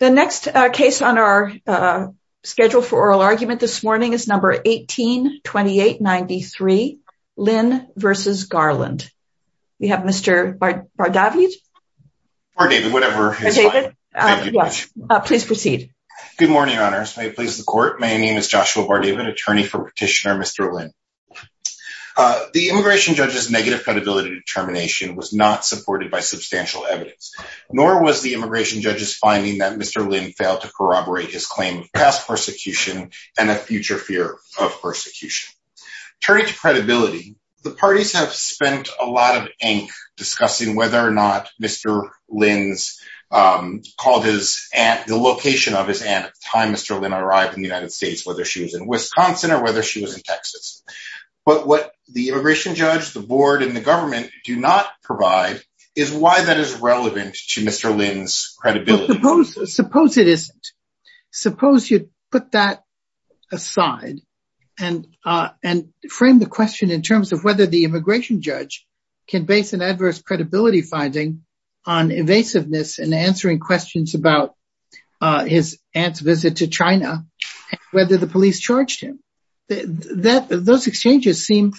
The next case on our schedule for oral argument this morning is number 182893, Lynn v. Garland. We have Mr. Bardavid. Bardavid, whatever is fine. Yes, please proceed. Good morning, honors. May it please the court. My name is Joshua Bardavid, attorney for petitioner Mr. Lynn. The immigration judge's negative credibility determination was not supported by substantial evidence. Nor was the immigration judge's finding that Mr. Lynn failed to corroborate his claim of past persecution and a future fear of persecution. Turning to credibility, the parties have spent a lot of ink discussing whether or not Mr. Lynn's, called his aunt, the location of his aunt at the time Mr. Lynn arrived in the United States, whether she was in Wisconsin or whether she was in Texas. But what the immigration judge, the board and the government do not provide is why that is relevant to Mr. Lynn's credibility. Suppose it isn't. Suppose you put that aside and frame the question in terms of whether the immigration judge can base an adverse credibility finding on invasiveness and answering questions about his aunt's visit to China, whether the police charged him. Those exchanges seem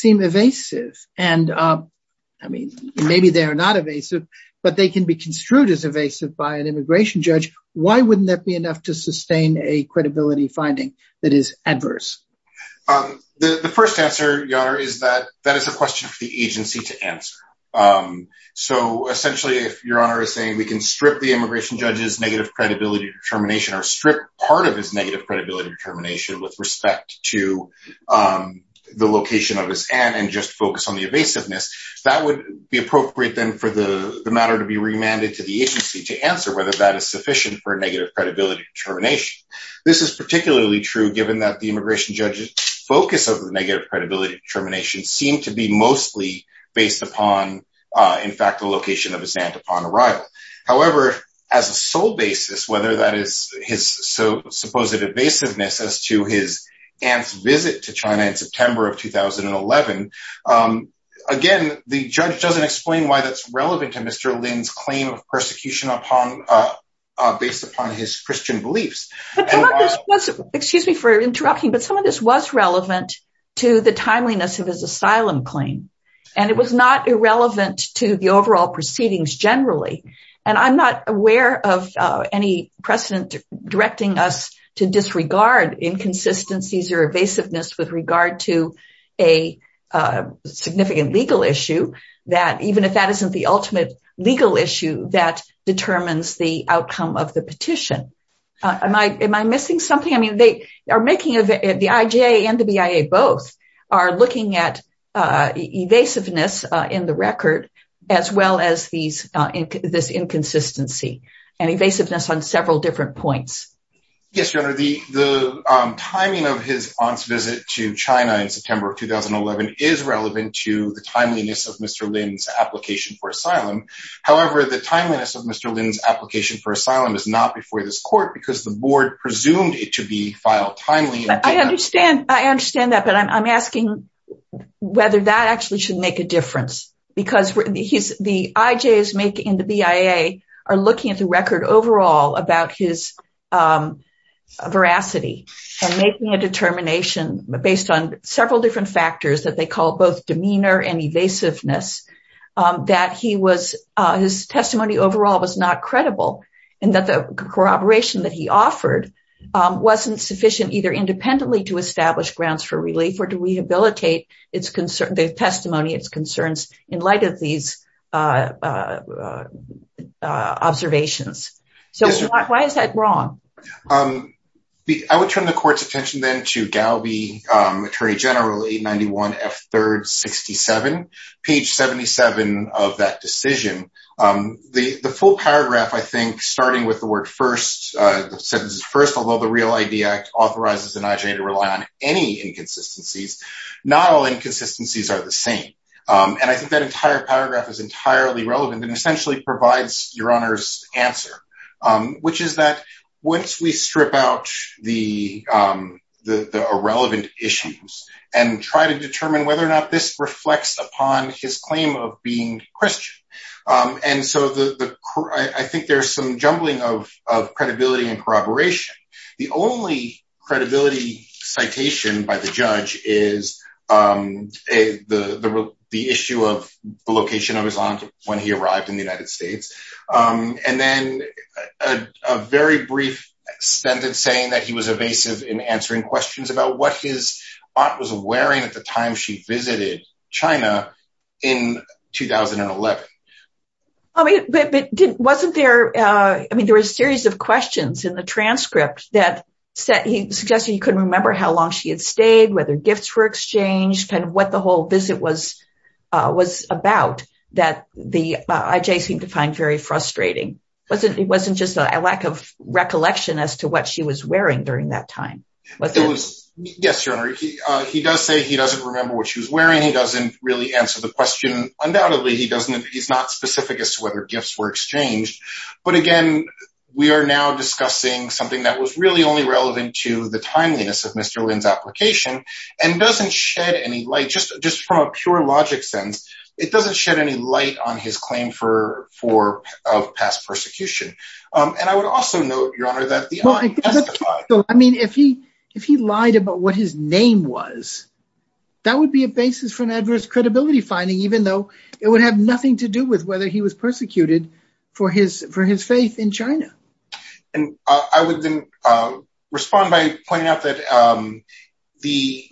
evasive. And I mean, maybe they are not evasive, but they can be construed as evasive by an immigration judge. Why wouldn't that be enough to sustain a credibility finding that is adverse? The first answer, your honor, is that that is a question for the agency to answer. So essentially, if your honor is saying we can strip the immigration judge's negative credibility determination or strip part of his negative credibility determination with respect to the location of his aunt and just focus on the evasiveness, that would be appropriate then for the matter to be remanded to the agency to answer whether that is sufficient for a negative credibility determination. This is particularly true given that the immigration judge's focus of the negative credibility determination seemed to be mostly based upon, in fact, the location of his aunt upon arrival. However, as a sole basis, whether that is his supposed evasiveness as to his aunt's visit to China in September of 2011, again, the judge doesn't explain why that's relevant to Mr. Lin's claim of persecution based upon his Christian beliefs. Excuse me for interrupting, but some of this was relevant to the timeliness of his asylum claim, and it was not irrelevant to the overall proceedings generally. And I'm not aware of any precedent directing us to disregard inconsistencies or evasiveness with regard to a significant legal issue that even if that isn't the ultimate legal issue that determines the outcome of the petition. Am I missing something? I mean, the IJA and the BIA both are looking at evasiveness in the record as well as this inconsistency and evasiveness on several different points. Yes, Your Honor, the timing of his aunt's visit to China in September of 2011 is relevant to the timeliness of Mr. Lin's application for asylum. However, the timeliness of Mr. Lin's application for asylum is not before this court because the board presumed it to be filed timely. I understand. I understand that. But I'm asking whether that actually should make a difference, because the IJA and the BIA are looking at the record overall about his veracity and making a determination based on several different factors that they call both demeanor and evasiveness, that he was his testimony overall was not credible and that the corroboration that he offered wasn't sufficient either independently to establish grounds for relief or to rehabilitate its testimony, its concerns in light of these observations. So why is that wrong? I would turn the court's attention then to Galby, Attorney General 891 F3rd 67, page 77 of that decision. The full paragraph, I think, starting with the word first, the sentence is first, although the Real ID Act authorizes the IJA to rely on any inconsistencies, not all inconsistencies are the same. And I think that entire paragraph is entirely relevant and essentially provides your honor's answer, which is that once we strip out the the irrelevant issues and try to determine whether or not this reflects upon his claim of being Christian. And so I think there's some jumbling of credibility and corroboration. The only credibility citation by the judge is the issue of the location of his aunt when he arrived in the United States. And then a very brief sentence saying that he was evasive in answering questions about what his aunt was wearing at the time she visited China in 2011. But wasn't there, I mean, there was a series of questions in the transcript that said he suggested he couldn't remember how long she had stayed, whether gifts were exchanged and what the whole visit was was about that the IJA seemed to find very frustrating. It wasn't just a lack of recollection as to what she was wearing during that time. Yes, your honor. He does say he doesn't remember what she was wearing. He doesn't really answer the question. Undoubtedly, he doesn't. He's not specific as to whether gifts were exchanged. But again, we are now discussing something that was really only relevant to the timeliness of Mr. Lin's application and doesn't shed any light just just from a pure logic sense. It doesn't shed any light on his claim for for past persecution. And I would also note, your honor, that I mean, if he if he lied about what his name was, that would be a basis for an adverse credibility finding, even though it would have nothing to do with whether he was persecuted for his for his faith in China. And I would then respond by pointing out that the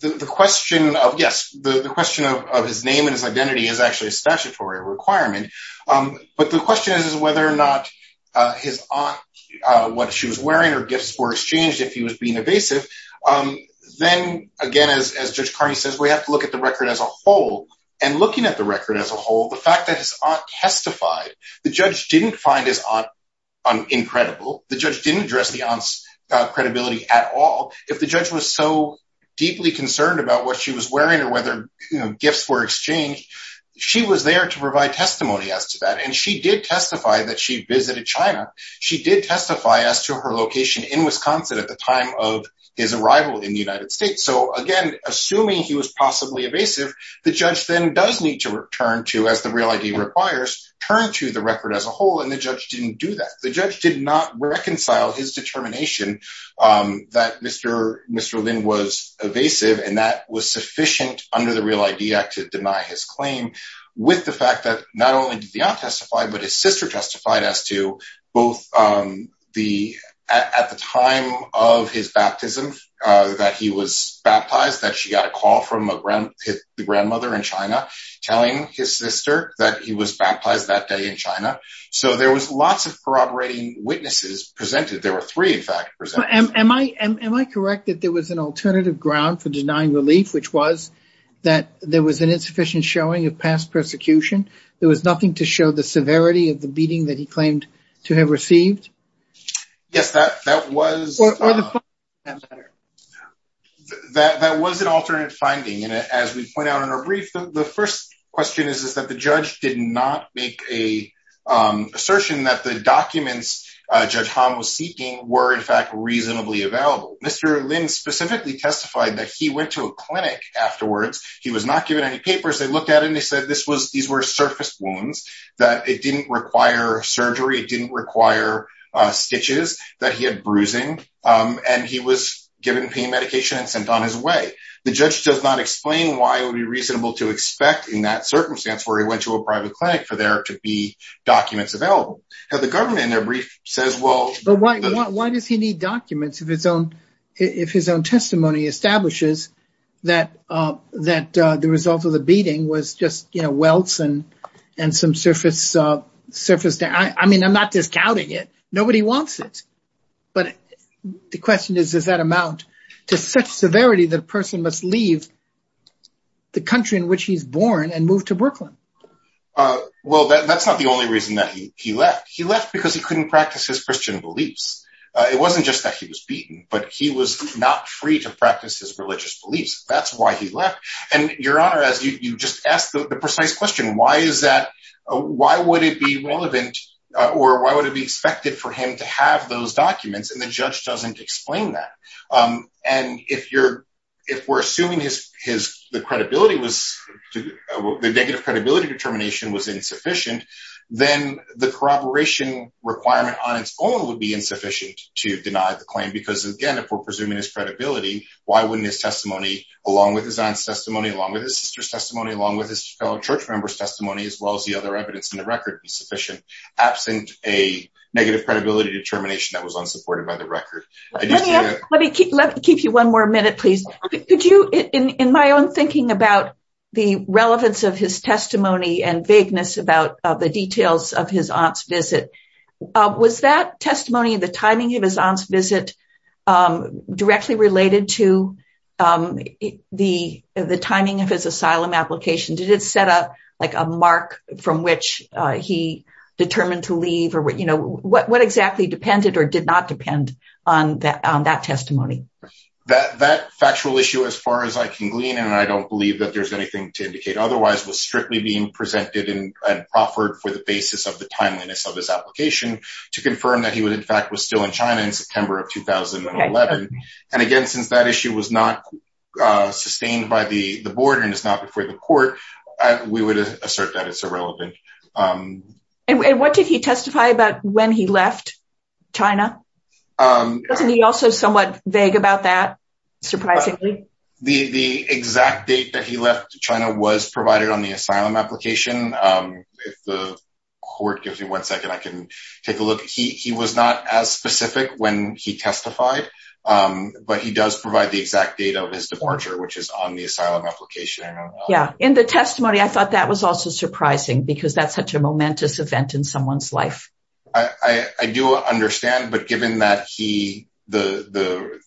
the question of, yes, the question of his name and his identity is actually a statutory requirement. But the question is, is whether or not his aunt, what she was wearing or gifts were exchanged if he was being evasive. Then again, as Judge Carney says, we have to look at the record as a whole. And looking at the record as a whole, the fact that his aunt testified, the judge didn't find his aunt incredible. The judge didn't address the aunt's credibility at all. If the judge was so deeply concerned about what she was wearing or whether gifts were exchanged, she was there to provide testimony as to that. And she did testify that she visited China. She did testify as to her location in Wisconsin at the time of his arrival in the United States. So, again, assuming he was possibly evasive, the judge then does need to return to, as the real ID requires, turn to the record as a whole. And the judge didn't do that. The judge did not reconcile his determination that Mr. Lin was evasive. And that was sufficient under the Real ID Act to deny his claim with the fact that not only did the aunt testify, but his sister testified as to both the at the time of his baptism, that he was baptized, that she got a call from the grandmother in China telling his sister that he was baptized that day in China. So there was lots of corroborating witnesses presented. There were three, in fact. Am I correct that there was an alternative ground for denying relief, which was that there was an insufficient showing of past persecution? There was nothing to show the severity of the beating that he claimed to have received? Yes, that was. That was an alternate finding, and as we point out in our brief, the first question is, is that the judge did not make a assertion that the documents Judge Han was seeking were, in fact, reasonably available. Mr. Lin specifically testified that he went to a clinic afterwards. He was not given any papers. They looked at him. They said this was these were surface wounds that it didn't require surgery. It didn't require stitches that he had bruising and he was given pain medication and sent on his way. The judge does not explain why it would be reasonable to expect in that circumstance where he went to a private clinic for there to be documents available. Why does he need documents if his own testimony establishes that the result of the beating was just welts and some surface damage? I mean, I'm not discounting it. Nobody wants it. But the question is, does that amount to such severity that a person must leave the country in which he's born and move to Brooklyn? Well, that's not the only reason that he left. He left because he couldn't practice his Christian beliefs. It wasn't just that he was beaten, but he was not free to practice his religious beliefs. That's why he left. And your honor, as you just asked the precise question, why is that? Why would it be relevant or why would it be expected for him to have those documents? And the judge doesn't explain that. And if you're if we're assuming his his the credibility was the negative credibility determination was insufficient, then the corroboration requirement on its own would be insufficient to deny the claim. Because, again, if we're presuming his credibility, why wouldn't his testimony, along with his testimony, along with his sister's testimony, along with his fellow church members testimony, as well as the other evidence in the record, be sufficient? Absent a negative credibility determination that was unsupported by the record. Let me keep let me keep you one more minute, please. Could you in my own thinking about the relevance of his testimony and vagueness about the details of his aunt's visit? Was that testimony and the timing of his aunt's visit directly related to the timing of his asylum application? Did it set up like a mark from which he determined to leave or what exactly depended or did not depend on that testimony? That that factual issue, as far as I can glean, and I don't believe that there's anything to indicate otherwise, was strictly being presented and offered for the basis of the timeliness of his application to confirm that he would, in fact, was still in China in September of 2011. And again, since that issue was not sustained by the board and it's not before the court, we would assert that it's irrelevant. And what did he testify about when he left China? He also somewhat vague about that. Surprisingly, the exact date that he left China was provided on the asylum application. If the court gives me one second, I can take a look. He was not as specific when he testified, but he does provide the exact date of his departure, which is on the asylum application. Yeah. In the testimony, I thought that was also surprising because that's such a momentous event in someone's life. I do understand. But given that he the the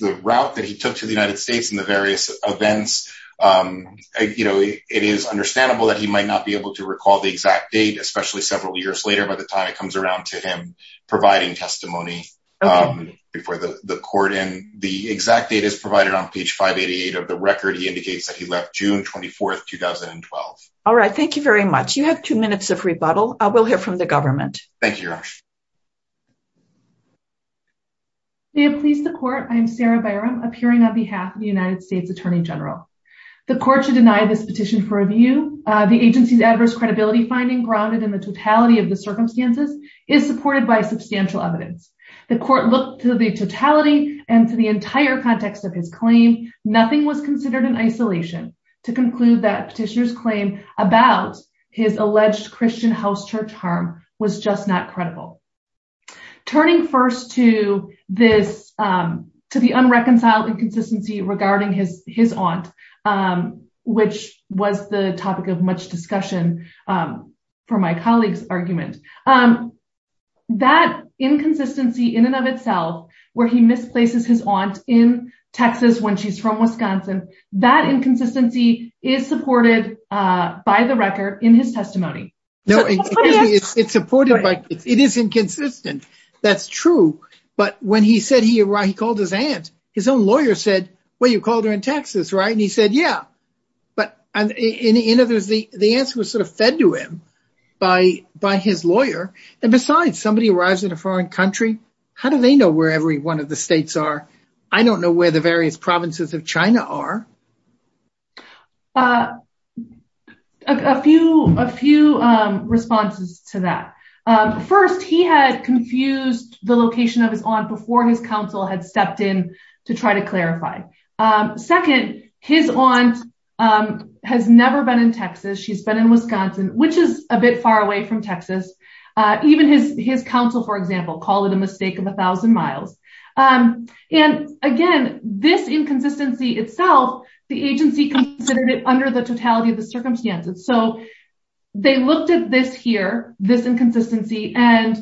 the route that he took to the United States and the various events, you know, it is understandable that he might not be able to recall the exact date, especially several years later by the time it comes around to him providing testimony before the court. And the exact date is provided on page 588 of the record. He indicates that he left June 24th, 2012. All right. Thank you very much. You have two minutes of rebuttal. We'll hear from the government. Thank you. May it please the court. I'm Sarah Byram appearing on behalf of the United States Attorney General. The court should deny this petition for review. The agency's adverse credibility finding grounded in the totality of the circumstances is supported by substantial evidence. The court looked to the totality and to the entire context of his claim. Nothing was considered in isolation to conclude that petitioner's claim about his alleged Christian house church harm was just not credible. Turning first to this to the unreconciled inconsistency regarding his his aunt, which was the topic of much discussion for my colleague's argument. That inconsistency in and of itself, where he misplaces his aunt in Texas when she's from Wisconsin, that inconsistency is supported by the record in his testimony. No, it's supported. It is inconsistent. That's true. But when he said he called his aunt, his own lawyer said, well, you called her in Texas, right? And he said, yeah, but the answer was sort of fed to him by by his lawyer. And besides, somebody arrives in a foreign country. How do they know where every one of the states are? I don't know where the various provinces of China are. A few a few responses to that. First, he had confused the location of his aunt before his counsel had stepped in to try to clarify. Second, his aunt has never been in Texas. She's been in Wisconsin, which is a bit far away from Texas. Even his his counsel, for example, called it a mistake of a thousand miles. And again, this inconsistency itself, the agency considered it under the totality of the circumstances. So they looked at this here, this inconsistency. And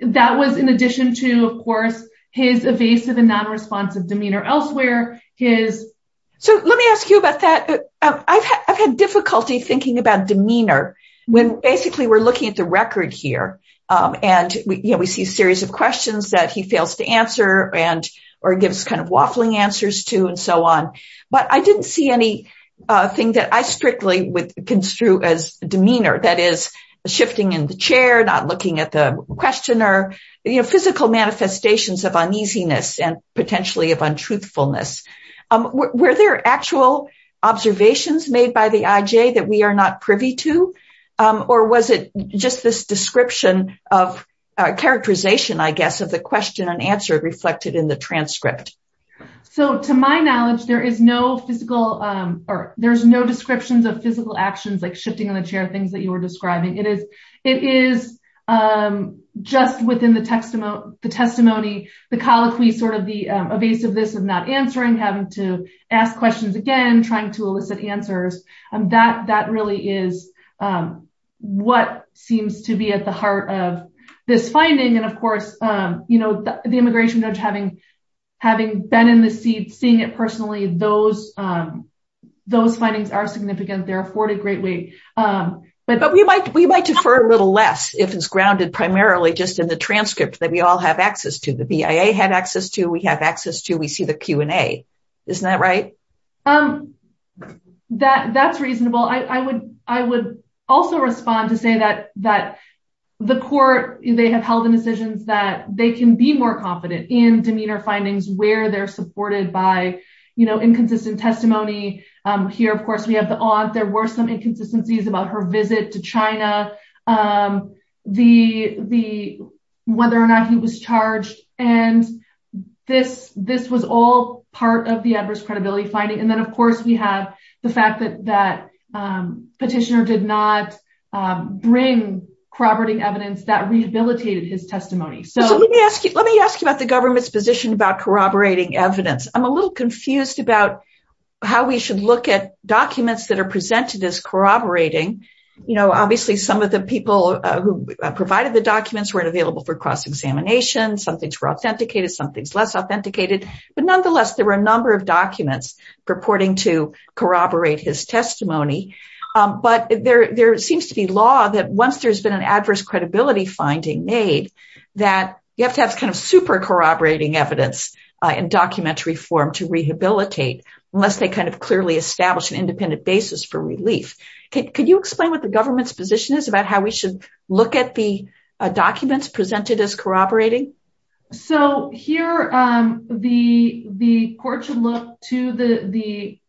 that was in addition to, of course, his evasive and non-responsive demeanor elsewhere. So let me ask you about that. I've had difficulty thinking about demeanor when basically we're looking at the record here. And, you know, we see a series of questions that he fails to answer and or gives kind of waffling answers to and so on. But I didn't see anything that I strictly would construe as demeanor. That is shifting in the chair, not looking at the questioner. You know, physical manifestations of uneasiness and potentially of untruthfulness. Were there actual observations made by the IJ that we are not privy to? Or was it just this description of characterization, I guess, of the question and answer reflected in the transcript? So to my knowledge, there is no physical or there's no descriptions of physical actions like shifting in the chair, things that you were describing. It is it is just within the testimony, the testimony, the colloquy, sort of the evasiveness of not answering, having to ask questions again, trying to elicit answers. And that that really is what seems to be at the heart of this finding. And, of course, you know, the immigration judge having having been in the seat, seeing it personally, those those findings are significant. They're afforded greatly. But we might we might defer a little less if it's grounded primarily just in the transcript that we all have access to. The BIA had access to we have access to. We see the Q&A. Isn't that right? That that's reasonable. I would I would also respond to say that that the court, they have held the decisions that they can be more confident in demeanor findings where they're supported by inconsistent testimony. Here, of course, we have the odd. There were some inconsistencies about her visit to China. The the whether or not he was charged and this this was all part of the adverse credibility finding. And then, of course, we have the fact that that petitioner did not bring corroborating evidence that rehabilitated his testimony. So let me ask you, let me ask you about the government's position about corroborating evidence. I'm a little confused about how we should look at documents that are presented as corroborating. You know, obviously, some of the people who provided the documents weren't available for cross-examination. Some things were authenticated, some things less authenticated. But nonetheless, there were a number of documents purporting to corroborate his testimony. But there there seems to be law that once there's been an adverse credibility finding made that you have to have kind of super corroborating evidence in documentary form to rehabilitate unless they kind of clearly establish an independent basis for relief. Could you explain what the government's position is about how we should look at the documents presented as corroborating? So here the the court should look to the the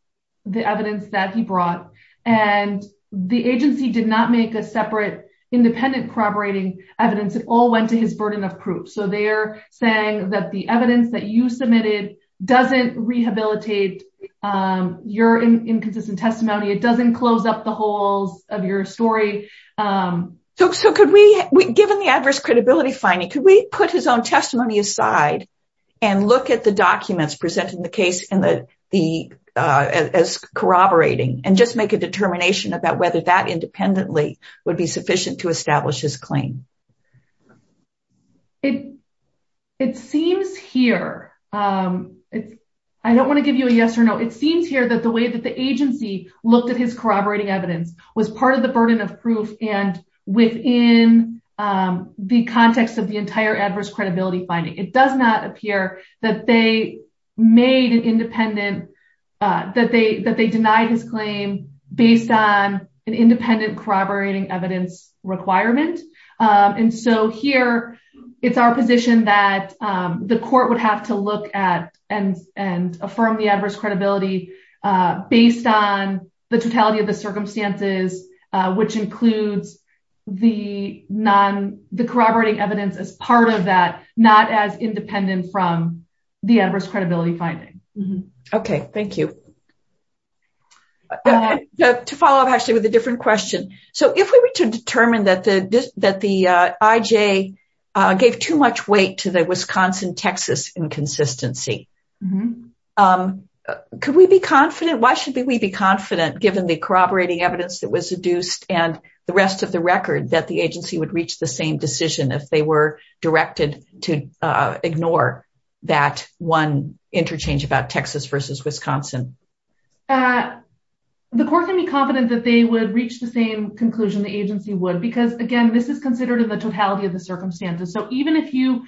the evidence that he brought. And the agency did not make a separate independent corroborating evidence. It all went to his burden of proof. So they are saying that the evidence that you submitted doesn't rehabilitate your inconsistent testimony. It doesn't close up the holes of your story. So could we, given the adverse credibility finding, could we put his own testimony aside and look at the documents presented in the case as corroborating and just make a determination about whether that independently would be sufficient to establish his claim? It it seems here it's I don't want to give you a yes or no. It seems here that the way that the agency looked at his corroborating evidence was part of the burden of proof. And within the context of the entire adverse credibility finding, it does not appear that they made an independent that they that they denied his claim based on an independent corroborating evidence requirement. And so here it's our position that the court would have to look at and and affirm the adverse credibility based on the totality of the circumstances, which includes the non the corroborating evidence as part of that, not as independent from the adverse credibility finding. OK, thank you. To follow up, actually, with a different question. So if we were to determine that the that the IJ gave too much weight to the Wisconsin-Texas inconsistency, could we be confident? Why should we be confident, given the corroborating evidence that was deduced and the rest of the record, that the agency would reach the same decision if they were directed to ignore that one interchange about Texas versus Wisconsin? The court can be confident that they would reach the same conclusion the agency would, because, again, this is considered in the totality of the circumstances. So even if you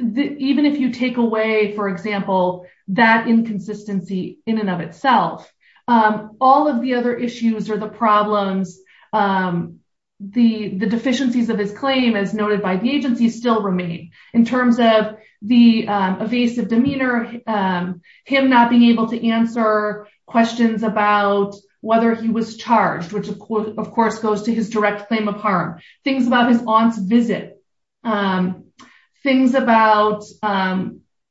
even if you take away, for example, that inconsistency in and of itself, all of the other issues or the problems, the deficiencies of his claim, as noted by the agency, still remain in terms of the evasive demeanor, him not being able to answer questions about whether he was charged, which, of course, goes to his direct claim of harm. Things about his aunt's visit, things about,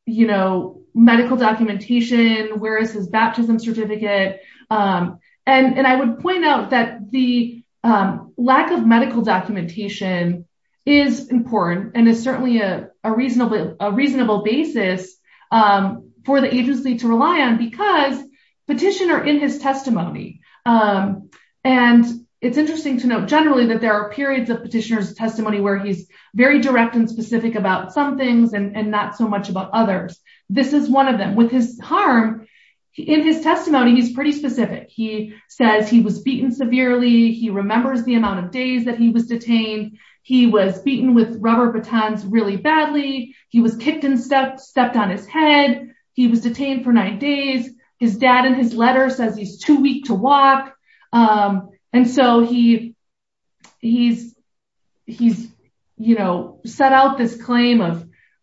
you know, medical documentation. Where is his baptism certificate? And I would point out that the lack of medical documentation is important and is certainly a reasonable, a reasonable basis for the agency to rely on because petitioner in his testimony. And it's interesting to note generally that there are periods of petitioners testimony where he's very direct and specific about some things and not so much about others. This is one of them with his harm in his testimony. He's pretty specific. He says he was beaten severely. He remembers the amount of days that he was detained. He was beaten with rubber batons really badly. He was kicked and stepped on his head. He was detained for nine days. His dad in his letter says he's too weak to walk. And so he he's he's, you know, set out this claim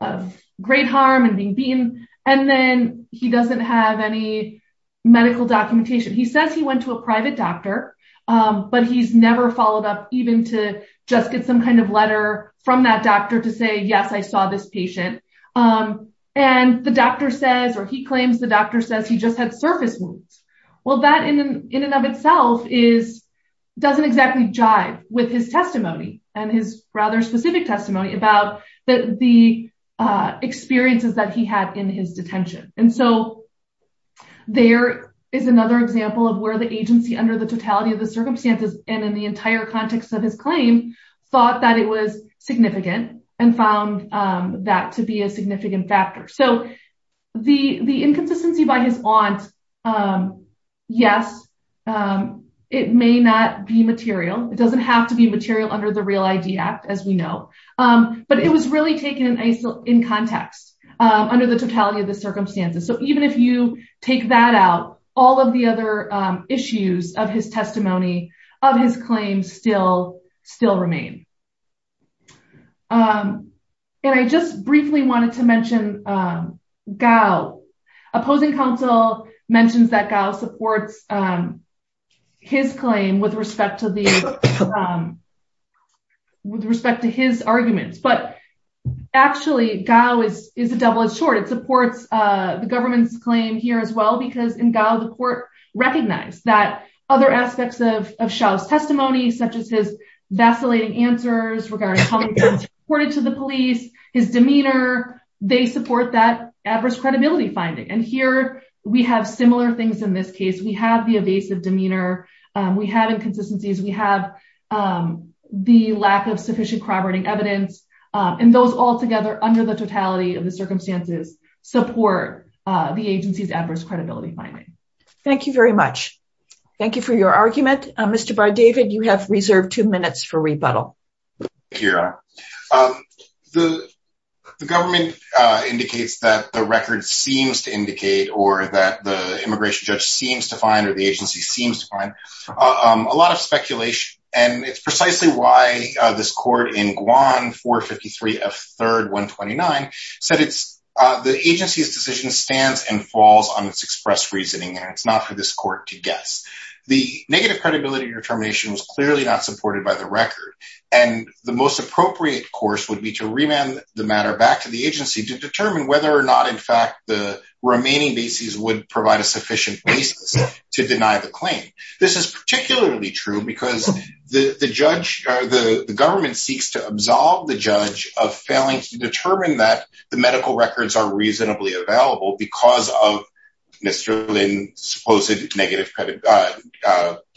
of great harm and being beaten. And then he doesn't have any medical documentation. He says he went to a private doctor, but he's never followed up, even to just get some kind of letter from that doctor to say, yes, I saw this patient. And the doctor says or he claims the doctor says he just had surface wounds. Well, that in and of itself is doesn't exactly jive with his testimony and his rather specific testimony about the experiences that he had in his detention. And so there is another example of where the agency under the totality of the circumstances and in the entire context of his claim, thought that it was significant and found that to be a significant factor. So the the inconsistency by his aunt. Yes, it may not be material. It doesn't have to be material under the Real ID Act, as we know. But it was really taken in context under the totality of the circumstances. So even if you take that out, all of the other issues of his testimony of his claims still still remain. And I just briefly wanted to mention Gao. Opposing counsel mentions that Gao supports his claim with respect to the with respect to his arguments. But actually, Gao is is a double edged sword. It supports the government's claim here as well, because in Gao, the court recognized that other aspects of Shouse testimony, such as his vacillating answers regarding how it was reported to the police, his demeanor. They support that adverse credibility finding. And here we have similar things in this case. We have the evasive demeanor. We have inconsistencies. We have the lack of sufficient corroborating evidence. And those altogether under the totality of the circumstances support the agency's adverse credibility finding. Thank you very much. Thank you for your argument. Mr. David, you have reserved two minutes for rebuttal here. The government indicates that the record seems to indicate or that the immigration judge seems to find or the agency seems to find a lot of speculation. And it's precisely why this court in Guam for 53 of third one twenty nine said it's the agency's decision stands and falls on its express reasoning. And it's not for this court to guess. The negative credibility determination was clearly not supported by the record. And the most appropriate course would be to remand the matter back to the agency to determine whether or not, in fact, the remaining bases would provide a sufficient basis to deny the claim. This is particularly true because the judge or the government seeks to absolve the judge of failing to determine that the medical records are reasonably available because of Mr. Lynn's supposed negative credit,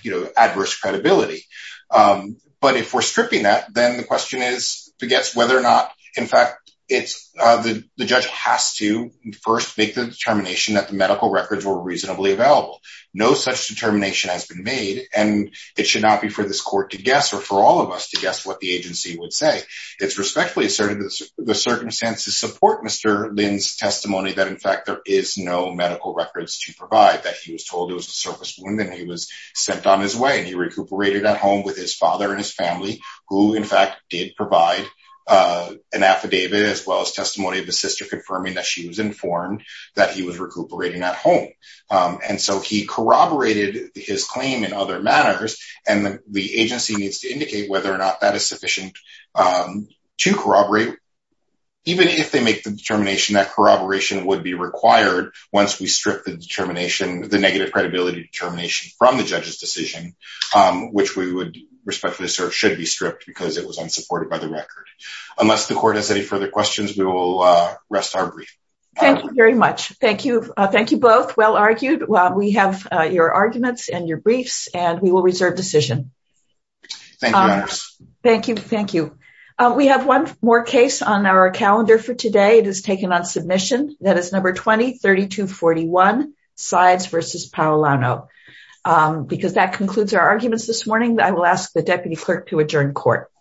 you know, adverse credibility. But if we're stripping that, then the question is to guess whether or not, in fact, it's the judge has to first make the determination that the medical records were reasonably available. No such determination has been made. And it should not be for this court to guess or for all of us to guess what the agency would say. It's respectfully asserted that the circumstances support Mr. Lynn's testimony that, in fact, there is no medical records to provide that he was told it was a surface wound and he was sent on his way and he recuperated at home with his father and his family, who, in fact, did provide an affidavit as well as testimony of his sister, confirming that she was informed that he was recuperating at home. And so he corroborated his claim in other manners. And the agency needs to indicate whether or not that is sufficient to corroborate. Even if they make the determination that corroboration would be required once we strip the determination, the negative credibility determination from the judge's decision, which we would respectfully assert should be stripped because it was unsupported by the record. Unless the court has any further questions, we will rest our brief. Thank you very much. Thank you. Thank you both. Well argued. Well, we have your arguments and your briefs and we will reserve decision. Thank you. Thank you. We have one more case on our calendar for today. It is taken on submission. That is number twenty thirty to forty one sides versus Paolano, because that concludes our arguments this morning. I will ask the deputy clerk to adjourn court.